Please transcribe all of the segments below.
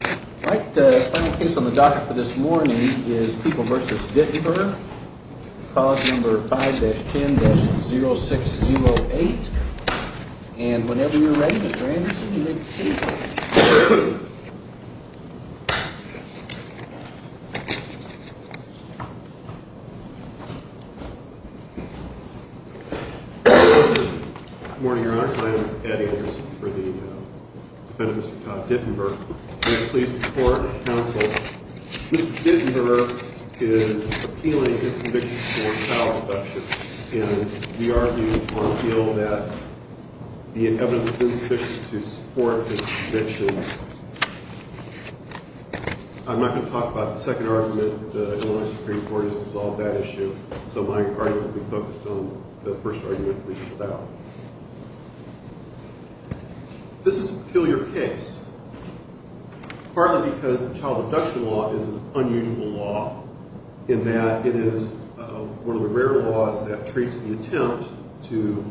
All right, the final case on the docket for this morning is People v. Dittenber. Clause number 5-10-0608. And whenever you're ready, Mr. Anderson, you may proceed. Good morning, Your Honor. I am Eddie Anderson for the defendant, Mr. Todd Dittenber. May I please report, counsel, Mr. Dittenber is appealing his conviction for child abduction. And we argue on appeal that the evidence is insufficient to support his conviction. I'm not going to talk about the second argument. The Illinois Supreme Court has resolved that issue. So my argument will be focused on the first argument, which is about. This is an appeal your case, partly because the child abduction law is an unusual law in that it is one of the rare laws that treats the attempt to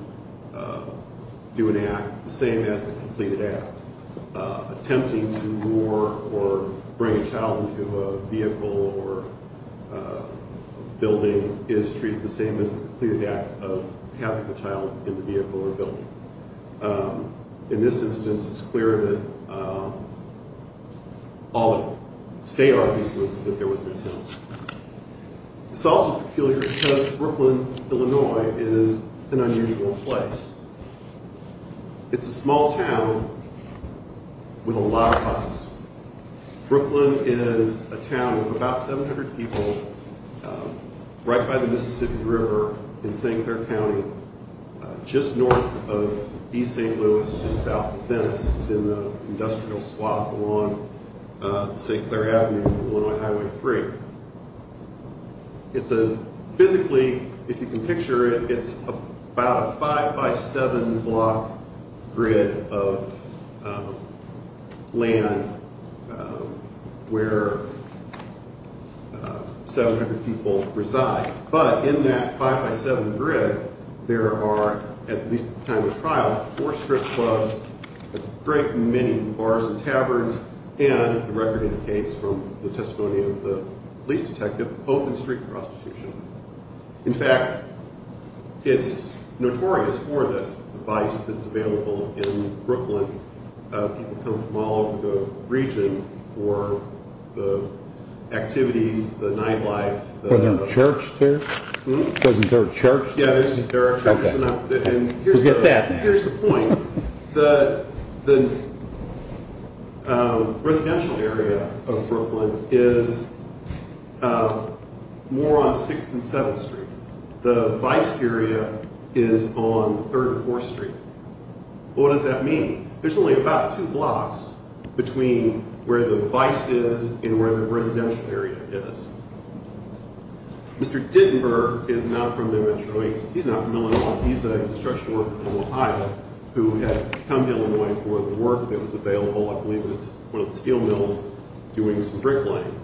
do an act the same as the completed act. Attempting to lure or bring a child into a vehicle or building is treated the same as the completed act of having the child in the vehicle or building. In this instance, it's clear that all the state argues was that there was an attempt. It's also peculiar because Brooklyn, Illinois is an unusual place. It's a small town with a lot of house. Brooklyn is a town of about 700 people right by the Mississippi River in St. Clair County, just north of East St. Louis, just south of Venice. It's in the industrial swath along St. Clair Avenue, Illinois Highway 3. Physically, if you can picture it, it's about a 5 by 7 block grid of land where 700 people reside. But in that 5 by 7 grid, there are, at least at the time of trial, four strip clubs, a great many bars and taverns, and the record indicates from the testimony of the police detective, open street prostitution. In fact, it's notorious for this device that's available in Brooklyn. People come from all over the region for the activities, the nightlife. Are there church there? Mm-hmm. Isn't there a church? Yeah, there are churches. Forget that. Here's the point. The residential area of Brooklyn is more on 6th and 7th Street. The vice area is on 3rd or 4th Street. What does that mean? There's only about two blocks between where the vice is and where the residential area is. Mr. Dittenberg is not from the Metro East. He's not from Illinois. He's a construction worker from Ohio who had come to Illinois for the work that was available, I believe it was one of the steel mills, doing some bricklaying.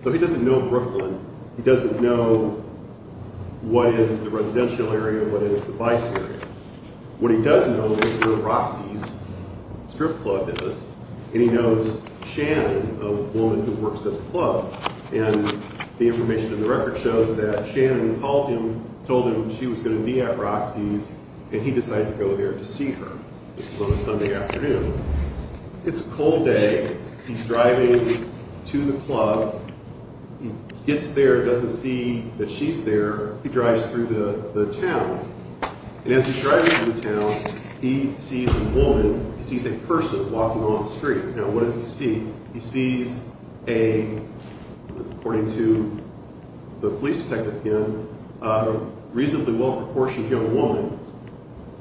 So he doesn't know Brooklyn. He doesn't know what is the residential area, what is the vice area. What he does know is where Roxy's Strip Club is, and he knows Shannon, a woman who works at the club. And the information in the record shows that Shannon called him, told him she was going to meet at Roxy's, and he decided to go there to see her. This was on a Sunday afternoon. It's a cold day. He's driving to the club. He gets there, doesn't see that she's there. He drives through the town. And as he's driving through the town, he sees a woman, he sees a person walking along the street. Now, what does he see? He sees a, according to the police detective again, a reasonably well-proportioned young woman.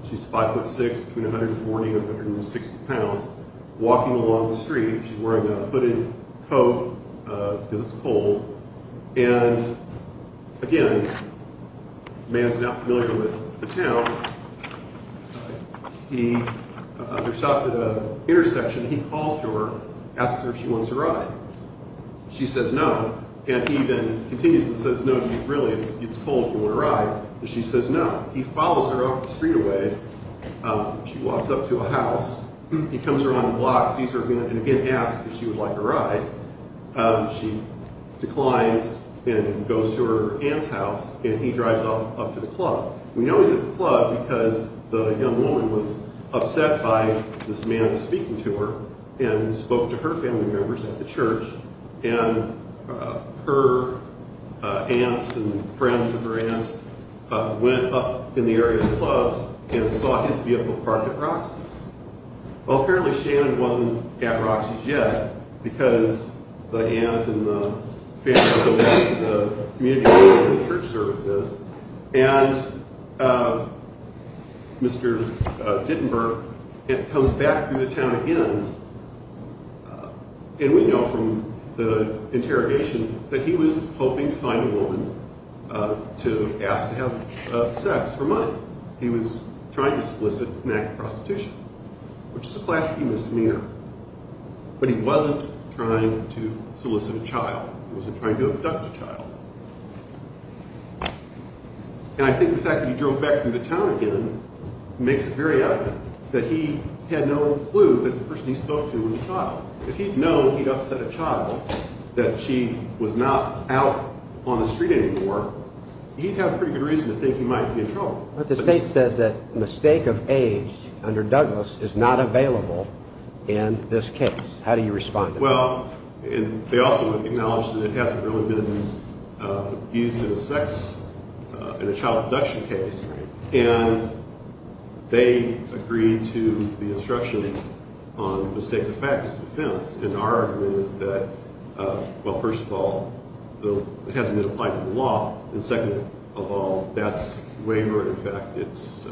She's 5'6", between 140 and 160 pounds, walking along the street. She's wearing a hooded coat because it's cold. And, again, the man's not familiar with the town. He stops at an intersection. He calls to her, asks her if she wants a ride. She says no. And he then continues and says, no, really, it's cold. Do you want a ride? And she says no. He follows her off the street a ways. She walks up to a house. He comes around the block, sees her, and again asks if she would like a ride. She declines and goes to her aunt's house, and he drives off up to the club. We know he's at the club because the young woman was upset by this man speaking to her and spoke to her family members at the church. And her aunts and friends of her aunts went up in the area of the clubs and saw his vehicle parked at Roxy's. Well, apparently Shannon wasn't at Roxy's yet because the aunts and the family members of the community church services and Mr. Dittenberg comes back through the town again. And we know from the interrogation that he was hoping to find a woman to ask to have sex for money. He was trying to solicit an act of prostitution, which is a classic humanist demeanor. But he wasn't trying to solicit a child. He wasn't trying to abduct a child. And I think the fact that he drove back through the town again makes it very evident that he had no clue that the person he spoke to was a child. If he'd known he'd upset a child, that she was not out on the street anymore, he'd have a pretty good reason to think he might be in trouble. But the state says that the mistake of age under Douglas is not available in this case. How do you respond to that? Well, they also acknowledge that it hasn't really been used in a child abduction case. And they agreed to the instruction on the mistake of fact as a defense. And our argument is that, well, first of all, it hasn't been applied to the law. And second of all, that's wavering. In fact, it's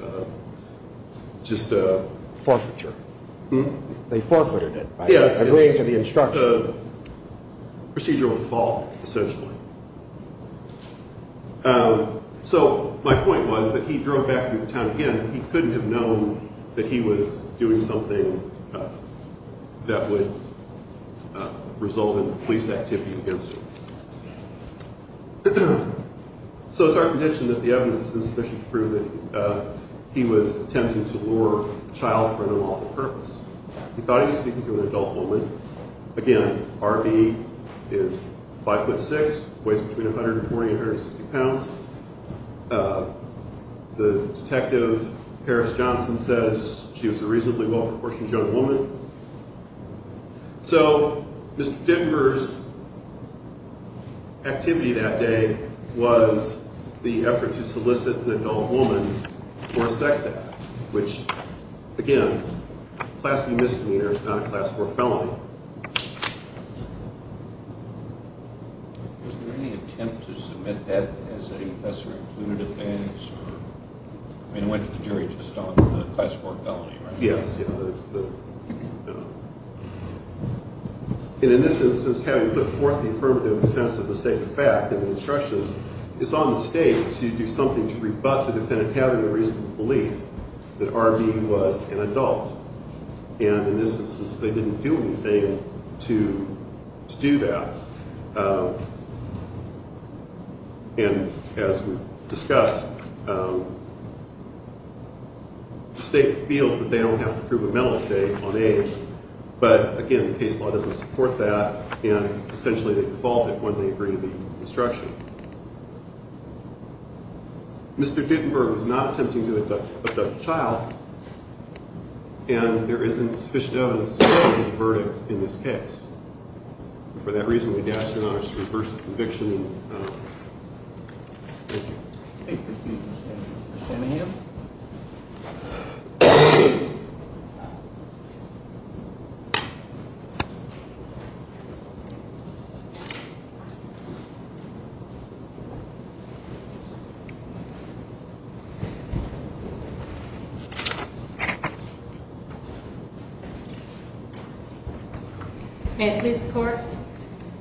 just a procedure of default, essentially. So my point was that he drove back through the town again. And he couldn't have known that he was doing something that would result in police activity against him. So it's our condition that the evidence is insufficient to prove that he was attempting to lure a child for an unlawful purpose. He thought he was speaking to an adult woman. Again, RV is 5'6", weighs between 140 and 160 pounds. The detective, Paris Johnson, says she was a reasonably well-proportioned young woman. So Mr. Denver's activity that day was the effort to solicit an adult woman for a sex act, which, again, class B misdemeanor, not a class 4 felony. Was there any attempt to submit that as a lesser-included offense? I mean, it went to the jury just on the class 4 felony, right? Yes. And in this instance, having put forth the affirmative defense of mistake of fact in the instructions, it's on the stage to do something to rebut the defendant having a reasonable belief that RV was an adult. And in this instance, they didn't do anything to do that. And as we've discussed, the state feels that they don't have to prove a mental state on age. But again, the case law doesn't support that. And essentially, they defaulted when they agreed to the instruction. Mr. Denver was not attempting to abduct a child, and there isn't sufficient evidence to support the verdict in this case. And for that reason, we'd ask your Honor to reverse the conviction. Thank you. Thank you, Mr. Anderson. Mr. Anahan? May it please the Court?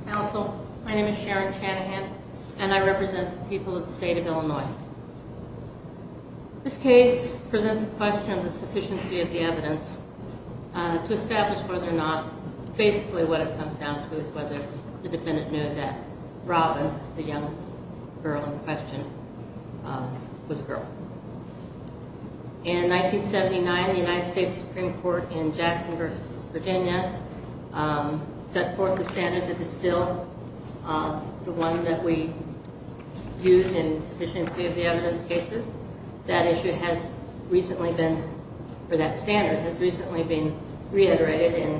Counsel, my name is Sharon Shanahan, and I represent the people of the state of Illinois. This case presents a question of the sufficiency of the evidence to establish whether or not basically what it comes down to is whether the defendant knew that Robin, the young girl in question, was a girl. In 1979, the United States Supreme Court in Jackson versus Virginia set forth the standard that is still the one that we use in sufficiency of the evidence cases. That standard has recently been reiterated in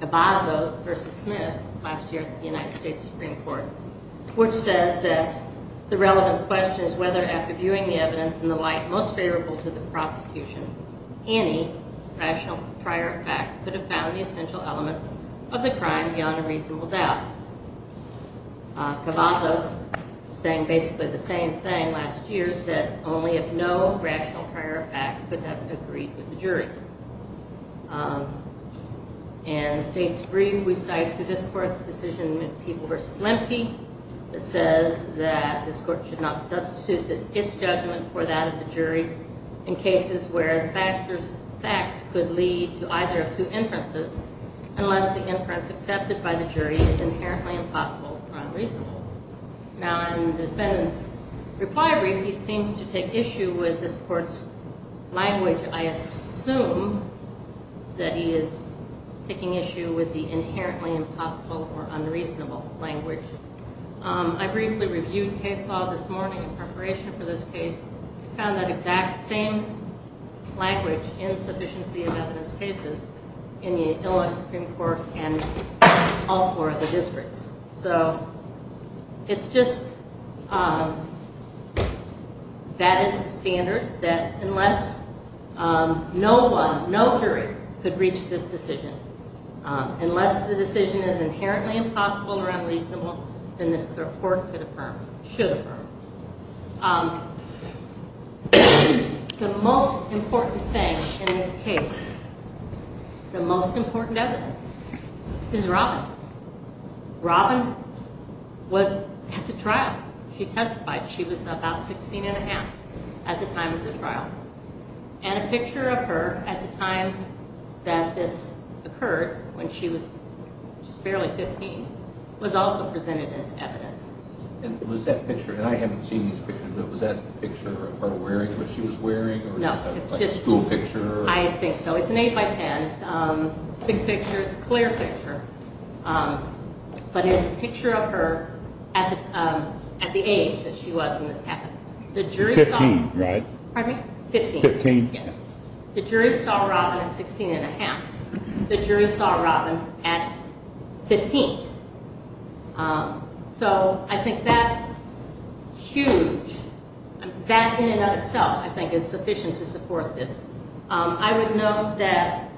Cavazos versus Smith last year at the United States Supreme Court, which says that the relevant question is whether, after viewing the evidence in the light most favorable to the prosecution, any rational prior effect could have found the essential elements of the crime beyond a reasonable doubt. Cavazos, saying basically the same thing last year, said only if no rational prior effect could have agreed with the jury. In the state's brief we cite to this Court's decision in People versus Lemke, it says that this Court should not substitute its judgment for that of the jury in cases where facts could lead to either of two inferences unless the inference accepted by the jury is inherently impossible or unreasonable. Now, in the defendant's reply brief, he seems to take issue with this Court's language. I assume that he is taking issue with the inherently impossible or unreasonable language. I briefly reviewed case law this morning in preparation for this case. I found that exact same language in sufficiency of evidence cases in the Illinois Supreme Court and all four of the districts. So it's just that is the standard, that unless no one, no jury, could reach this decision, unless the decision is inherently impossible or unreasonable, then this Court should affirm. The most important thing in this case, the most important evidence, is Robin. Robin was at the trial. She testified. She was about 16 1⁄2 at the time of the trial. And a picture of her at the time that this occurred, when she was just barely 15, was also presented as evidence. And was that picture, and I haven't seen these pictures, but was that a picture of her wearing what she was wearing? No. It's just a school picture? I think so. It's an 8 by 10. It's a big picture. It's a clear picture. But it's a picture of her at the age that she was when this happened. Fifteen, right? Pardon me? Fifteen. Fifteen. Yes. The jury saw Robin at 16 1⁄2. The jury saw Robin at 15. So I think that's huge. That in and of itself, I think, is sufficient to support this. I would note that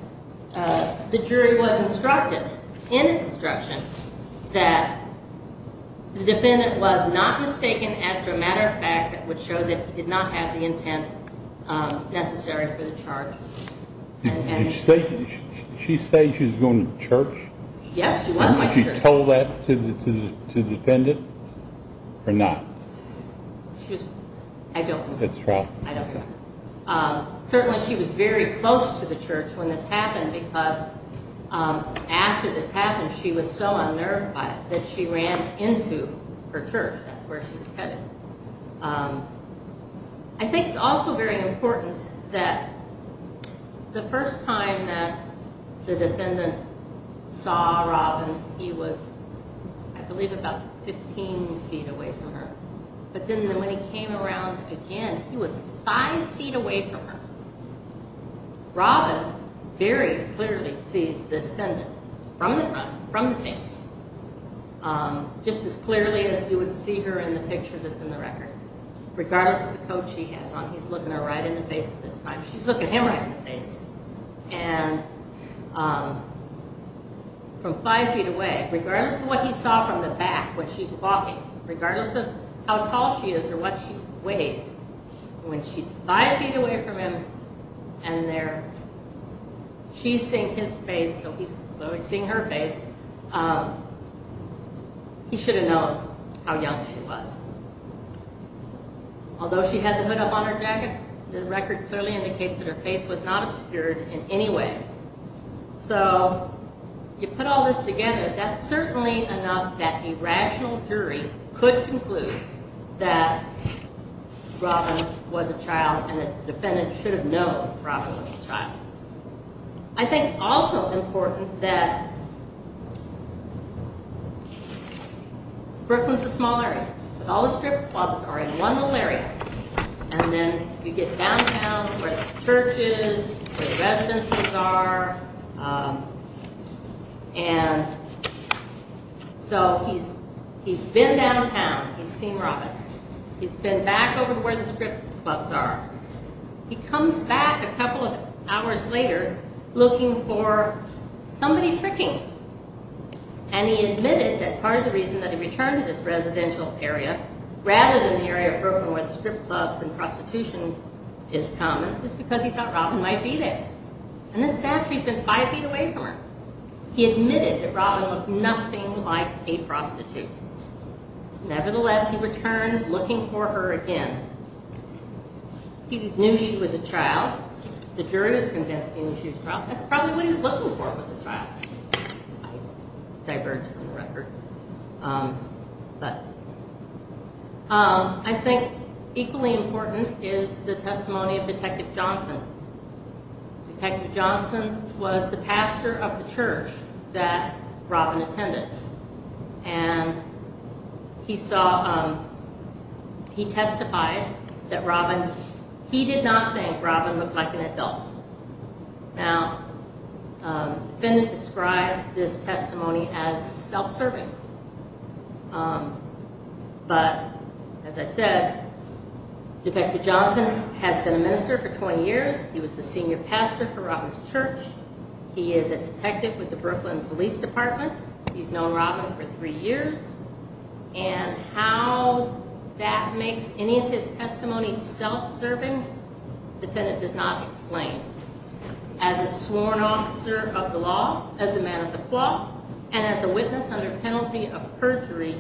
the jury was instructed in its instruction that the defendant was not mistaken as to a matter of fact that would show that he did not have the intent necessary for the charge. Did she say she was going to church? Yes, she was going to church. Was she told that to the defendant or not? I don't remember. It's a trap. I don't remember. Certainly, she was very close to the church when this happened because after this happened, she was so unnerved by it that she ran into her church. That's where she was headed. I think it's also very important that the first time that the defendant saw Robin, he was, I believe, about 15 feet away from her. But then when he came around again, he was five feet away from her. Robin very clearly sees the defendant from the front, from the face, just as clearly as you would see her in the picture that's in the record. Regardless of the coat she has on, he's looking her right in the face at this time. She's looking him right in the face. And from five feet away, regardless of what he saw from the back when she's walking, regardless of how tall she is or what she weighs, when she's five feet away from him and she's seeing his face, so he's seeing her face, he should have known how young she was. Although she had the hood up on her jacket, the record clearly indicates that her face was not obscured in any way. So you put all this together, that's certainly enough that a rational jury could conclude that Robin was a child and the defendant should have known Robin was a child. I think it's also important that Brooklyn's a small area, but all the strip clubs are in one little area. And then you get downtown where the church is, where the residences are, and so he's been downtown, he's seen Robin. He's been back over to where the strip clubs are. He comes back a couple of hours later looking for somebody tricking him. And he admitted that part of the reason that he returned to this residential area, rather than the area of Brooklyn where the strip clubs and prostitution is common, is because he thought Robin might be there. And this is after he'd been five feet away from her. He admitted that Robin looked nothing like a prostitute. Nevertheless, he returns looking for her again. He knew she was a child. The jury was convinced he knew she was a child. That's probably what he was looking for was a child. I diverge from the record. But I think equally important is the testimony of Detective Johnson. Detective Johnson was the pastor of the church that Robin attended. And he saw, he testified that Robin, he did not think Robin looked like an adult. Now, the defendant describes this testimony as self-serving. But, as I said, Detective Johnson has been a minister for 20 years. He was the senior pastor for Robin's church. He is a detective with the Brooklyn Police Department. He's known Robin for three years. And how that makes any of his testimony self-serving, the defendant does not explain. As a sworn officer of the law, as a man of the law, and as a witness under penalty of perjury,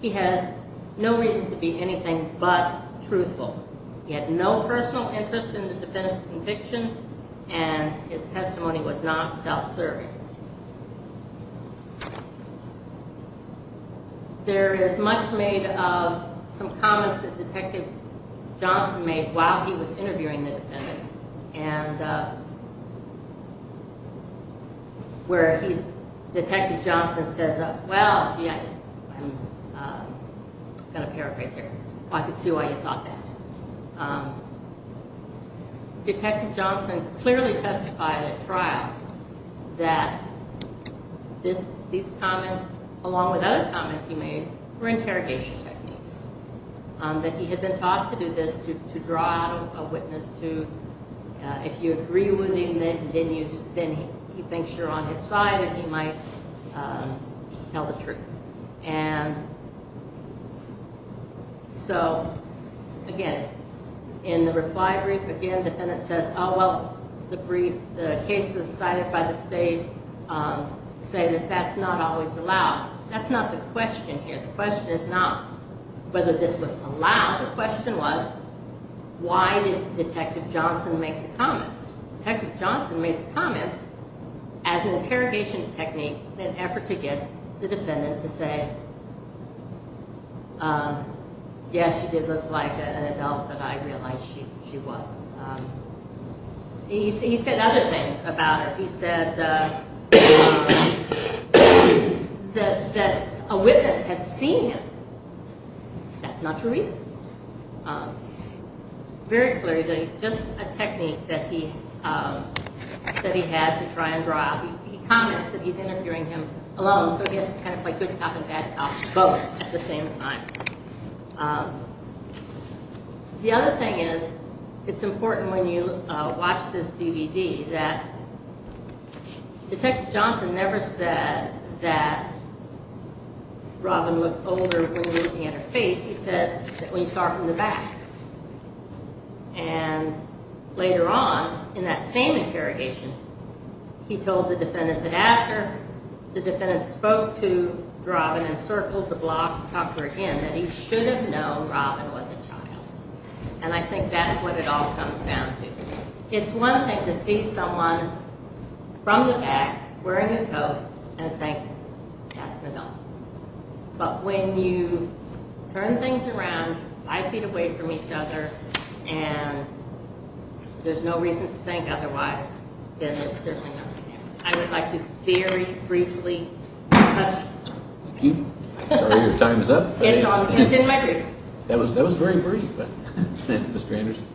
he has no reason to be anything but truthful. He had no personal interest in the defendant's conviction, and his testimony was not self-serving. There is much made of some comments that Detective Johnson made while he was interviewing the defendant. Where Detective Johnson says, well, gee, I'm going to paraphrase here. I can see why you thought that. Detective Johnson clearly testified at trial that these comments, along with other comments he made, were interrogation techniques. That he had been taught to do this, to draw out a witness to, if you agree with him, then he thinks you're on his side and he might tell the truth. And so, again, in the reply brief, again, the defendant says, oh, well, the brief, the cases cited by the state say that that's not always allowed. That's not the question here. The question is not whether this was allowed. The question was, why did Detective Johnson make the comments? Detective Johnson made the comments as an interrogation technique in an effort to get the defendant to say, yes, she did look like an adult, but I realize she wasn't. He said other things about her. He said that a witness had seen him. That's not true either. Very clearly, just a technique that he had to try and draw out. He comments that he's interfering him alone, so he has to kind of play good cop and bad cop both at the same time. The other thing is, it's important when you watch this DVD that Detective Johnson never said that Robin looked older when looking at her face. He said that when he saw her from the back. And later on, in that same interrogation, he told the defendant that after the defendant spoke to Robin and circled the block upward again, that he should have known Robin was a child. And I think that's what it all comes down to. It's one thing to see someone from the back wearing a coat and think, that's an adult. But when you turn things around, five feet away from each other, and there's no reason to think otherwise, then there's certainly nothing there. I would like to very briefly touch. Thank you. Sorry, your time is up. It's in my brief. That was very brief. Mr. Anderson.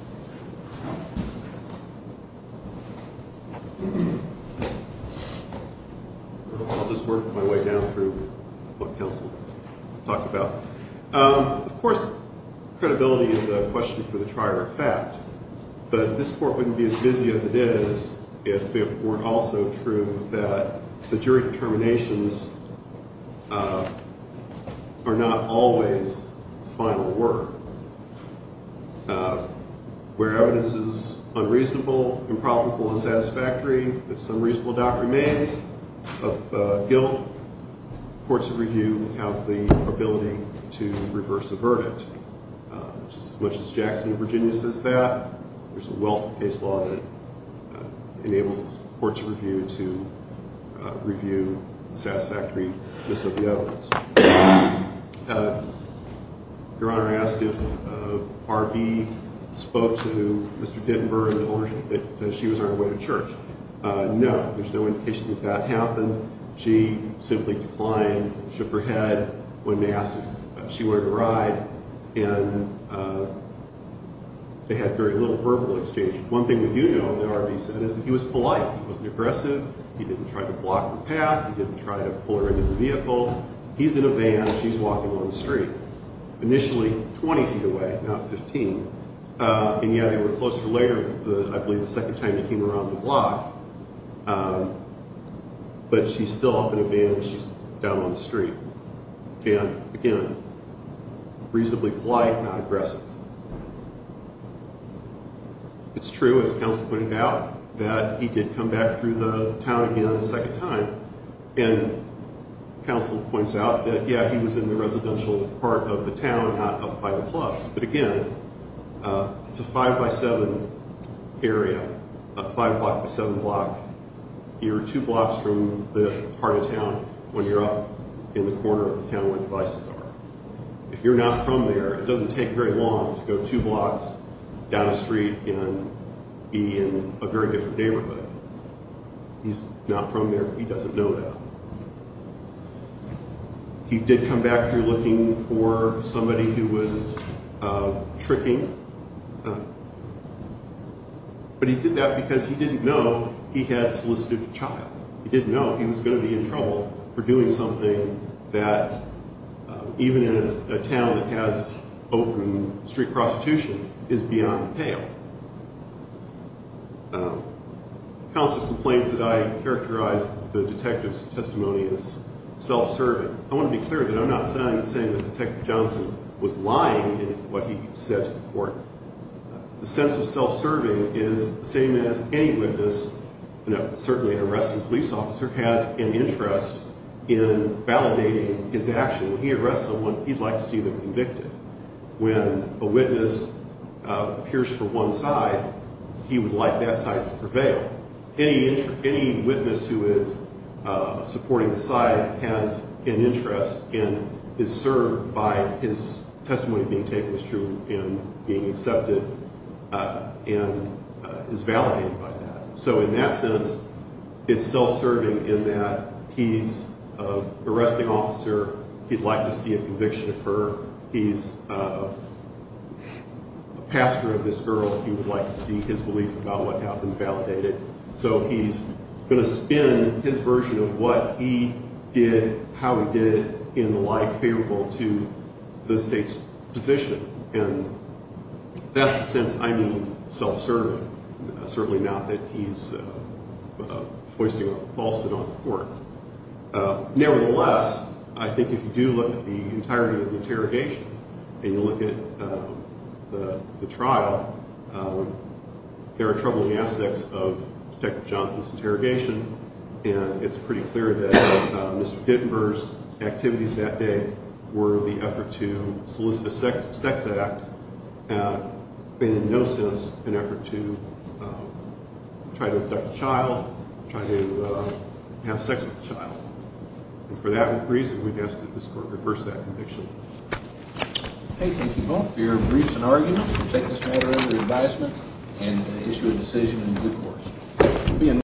I'll just work my way down through what counsel talked about. Of course, credibility is a question for the trier of fact. But this court wouldn't be as busy as it is if it weren't also true that the jury determinations are not always final word. Where evidence is unreasonable, improbable, unsatisfactory, if some reasonable doubt remains of guilt, courts of review have the ability to reverse a verdict. Just as much as Jackson v. Virginia says that, there's a wealth of case law that enables courts of review to review the satisfactory miss of the evidence. Your Honor, I asked if R.B. spoke to Mr. Dittenberg that she was on her way to church. No. There's no indication that that happened. She simply declined, shook her head when asked if she wanted a ride, and they had very little verbal exchange. One thing we do know that R.B. said is that he was polite. He wasn't aggressive. He didn't try to block her path. He didn't try to pull her into the vehicle. He's in a van. She's walking on the street, initially 20 feet away, not 15. And, yeah, they were closer later, I believe the second time they came around the block. But she's still up in a van. She's down on the street. And, again, reasonably polite, not aggressive. It's true, as counsel pointed out, that he did come back through the town again a second time. And counsel points out that, yeah, he was in the residential part of the town, not up by the clubs. But, again, it's a five-by-seven area, a five-block-by-seven block. You're two blocks from the heart of town when you're up in the corner of the town where the vices are. If you're not from there, it doesn't take very long to go two blocks down a street and be in a very different neighborhood. He's not from there. He doesn't know that. He did come back through looking for somebody who was tricking. But he did that because he didn't know he had solicited a child. He didn't know he was going to be in trouble for doing something that, even in a town that has open street prostitution, is beyond the pale. Counsel complains that I characterize the detective's testimony as self-serving. I want to be clear that I'm not saying that Detective Johnson was lying in what he said to the court. The sense of self-serving is the same as any witness, certainly an arrested police officer, has an interest in validating his action. When he arrests someone, he'd like to see them convicted. When a witness appears for one side, he would like that side to prevail. Any witness who is supporting the side has an interest and is served by his testimony being taken as true and being accepted and is validated by that. So in that sense, it's self-serving in that he's an arresting officer. He'd like to see a conviction occur. He's a pastor of this girl. He would like to see his belief about what happened validated. So he's going to spin his version of what he did, how he did it, in the light favorable to the state's position. And that's the sense I mean, self-serving. Certainly not that he's foisted on the court. Nevertheless, I think if you do look at the entirety of the interrogation and you look at the trial, there are troubling aspects of Detective Johnson's interrogation. And it's pretty clear that Mr. Dittenberg's activities that day were the effort to solicit a sex act and in no sense an effort to try to abduct a child, try to have sex with a child. And for that reason, we've asked that this court reverse that conviction. Thank you both for your briefs and arguments. We'll take this matter under advisement and issue a decision in due course.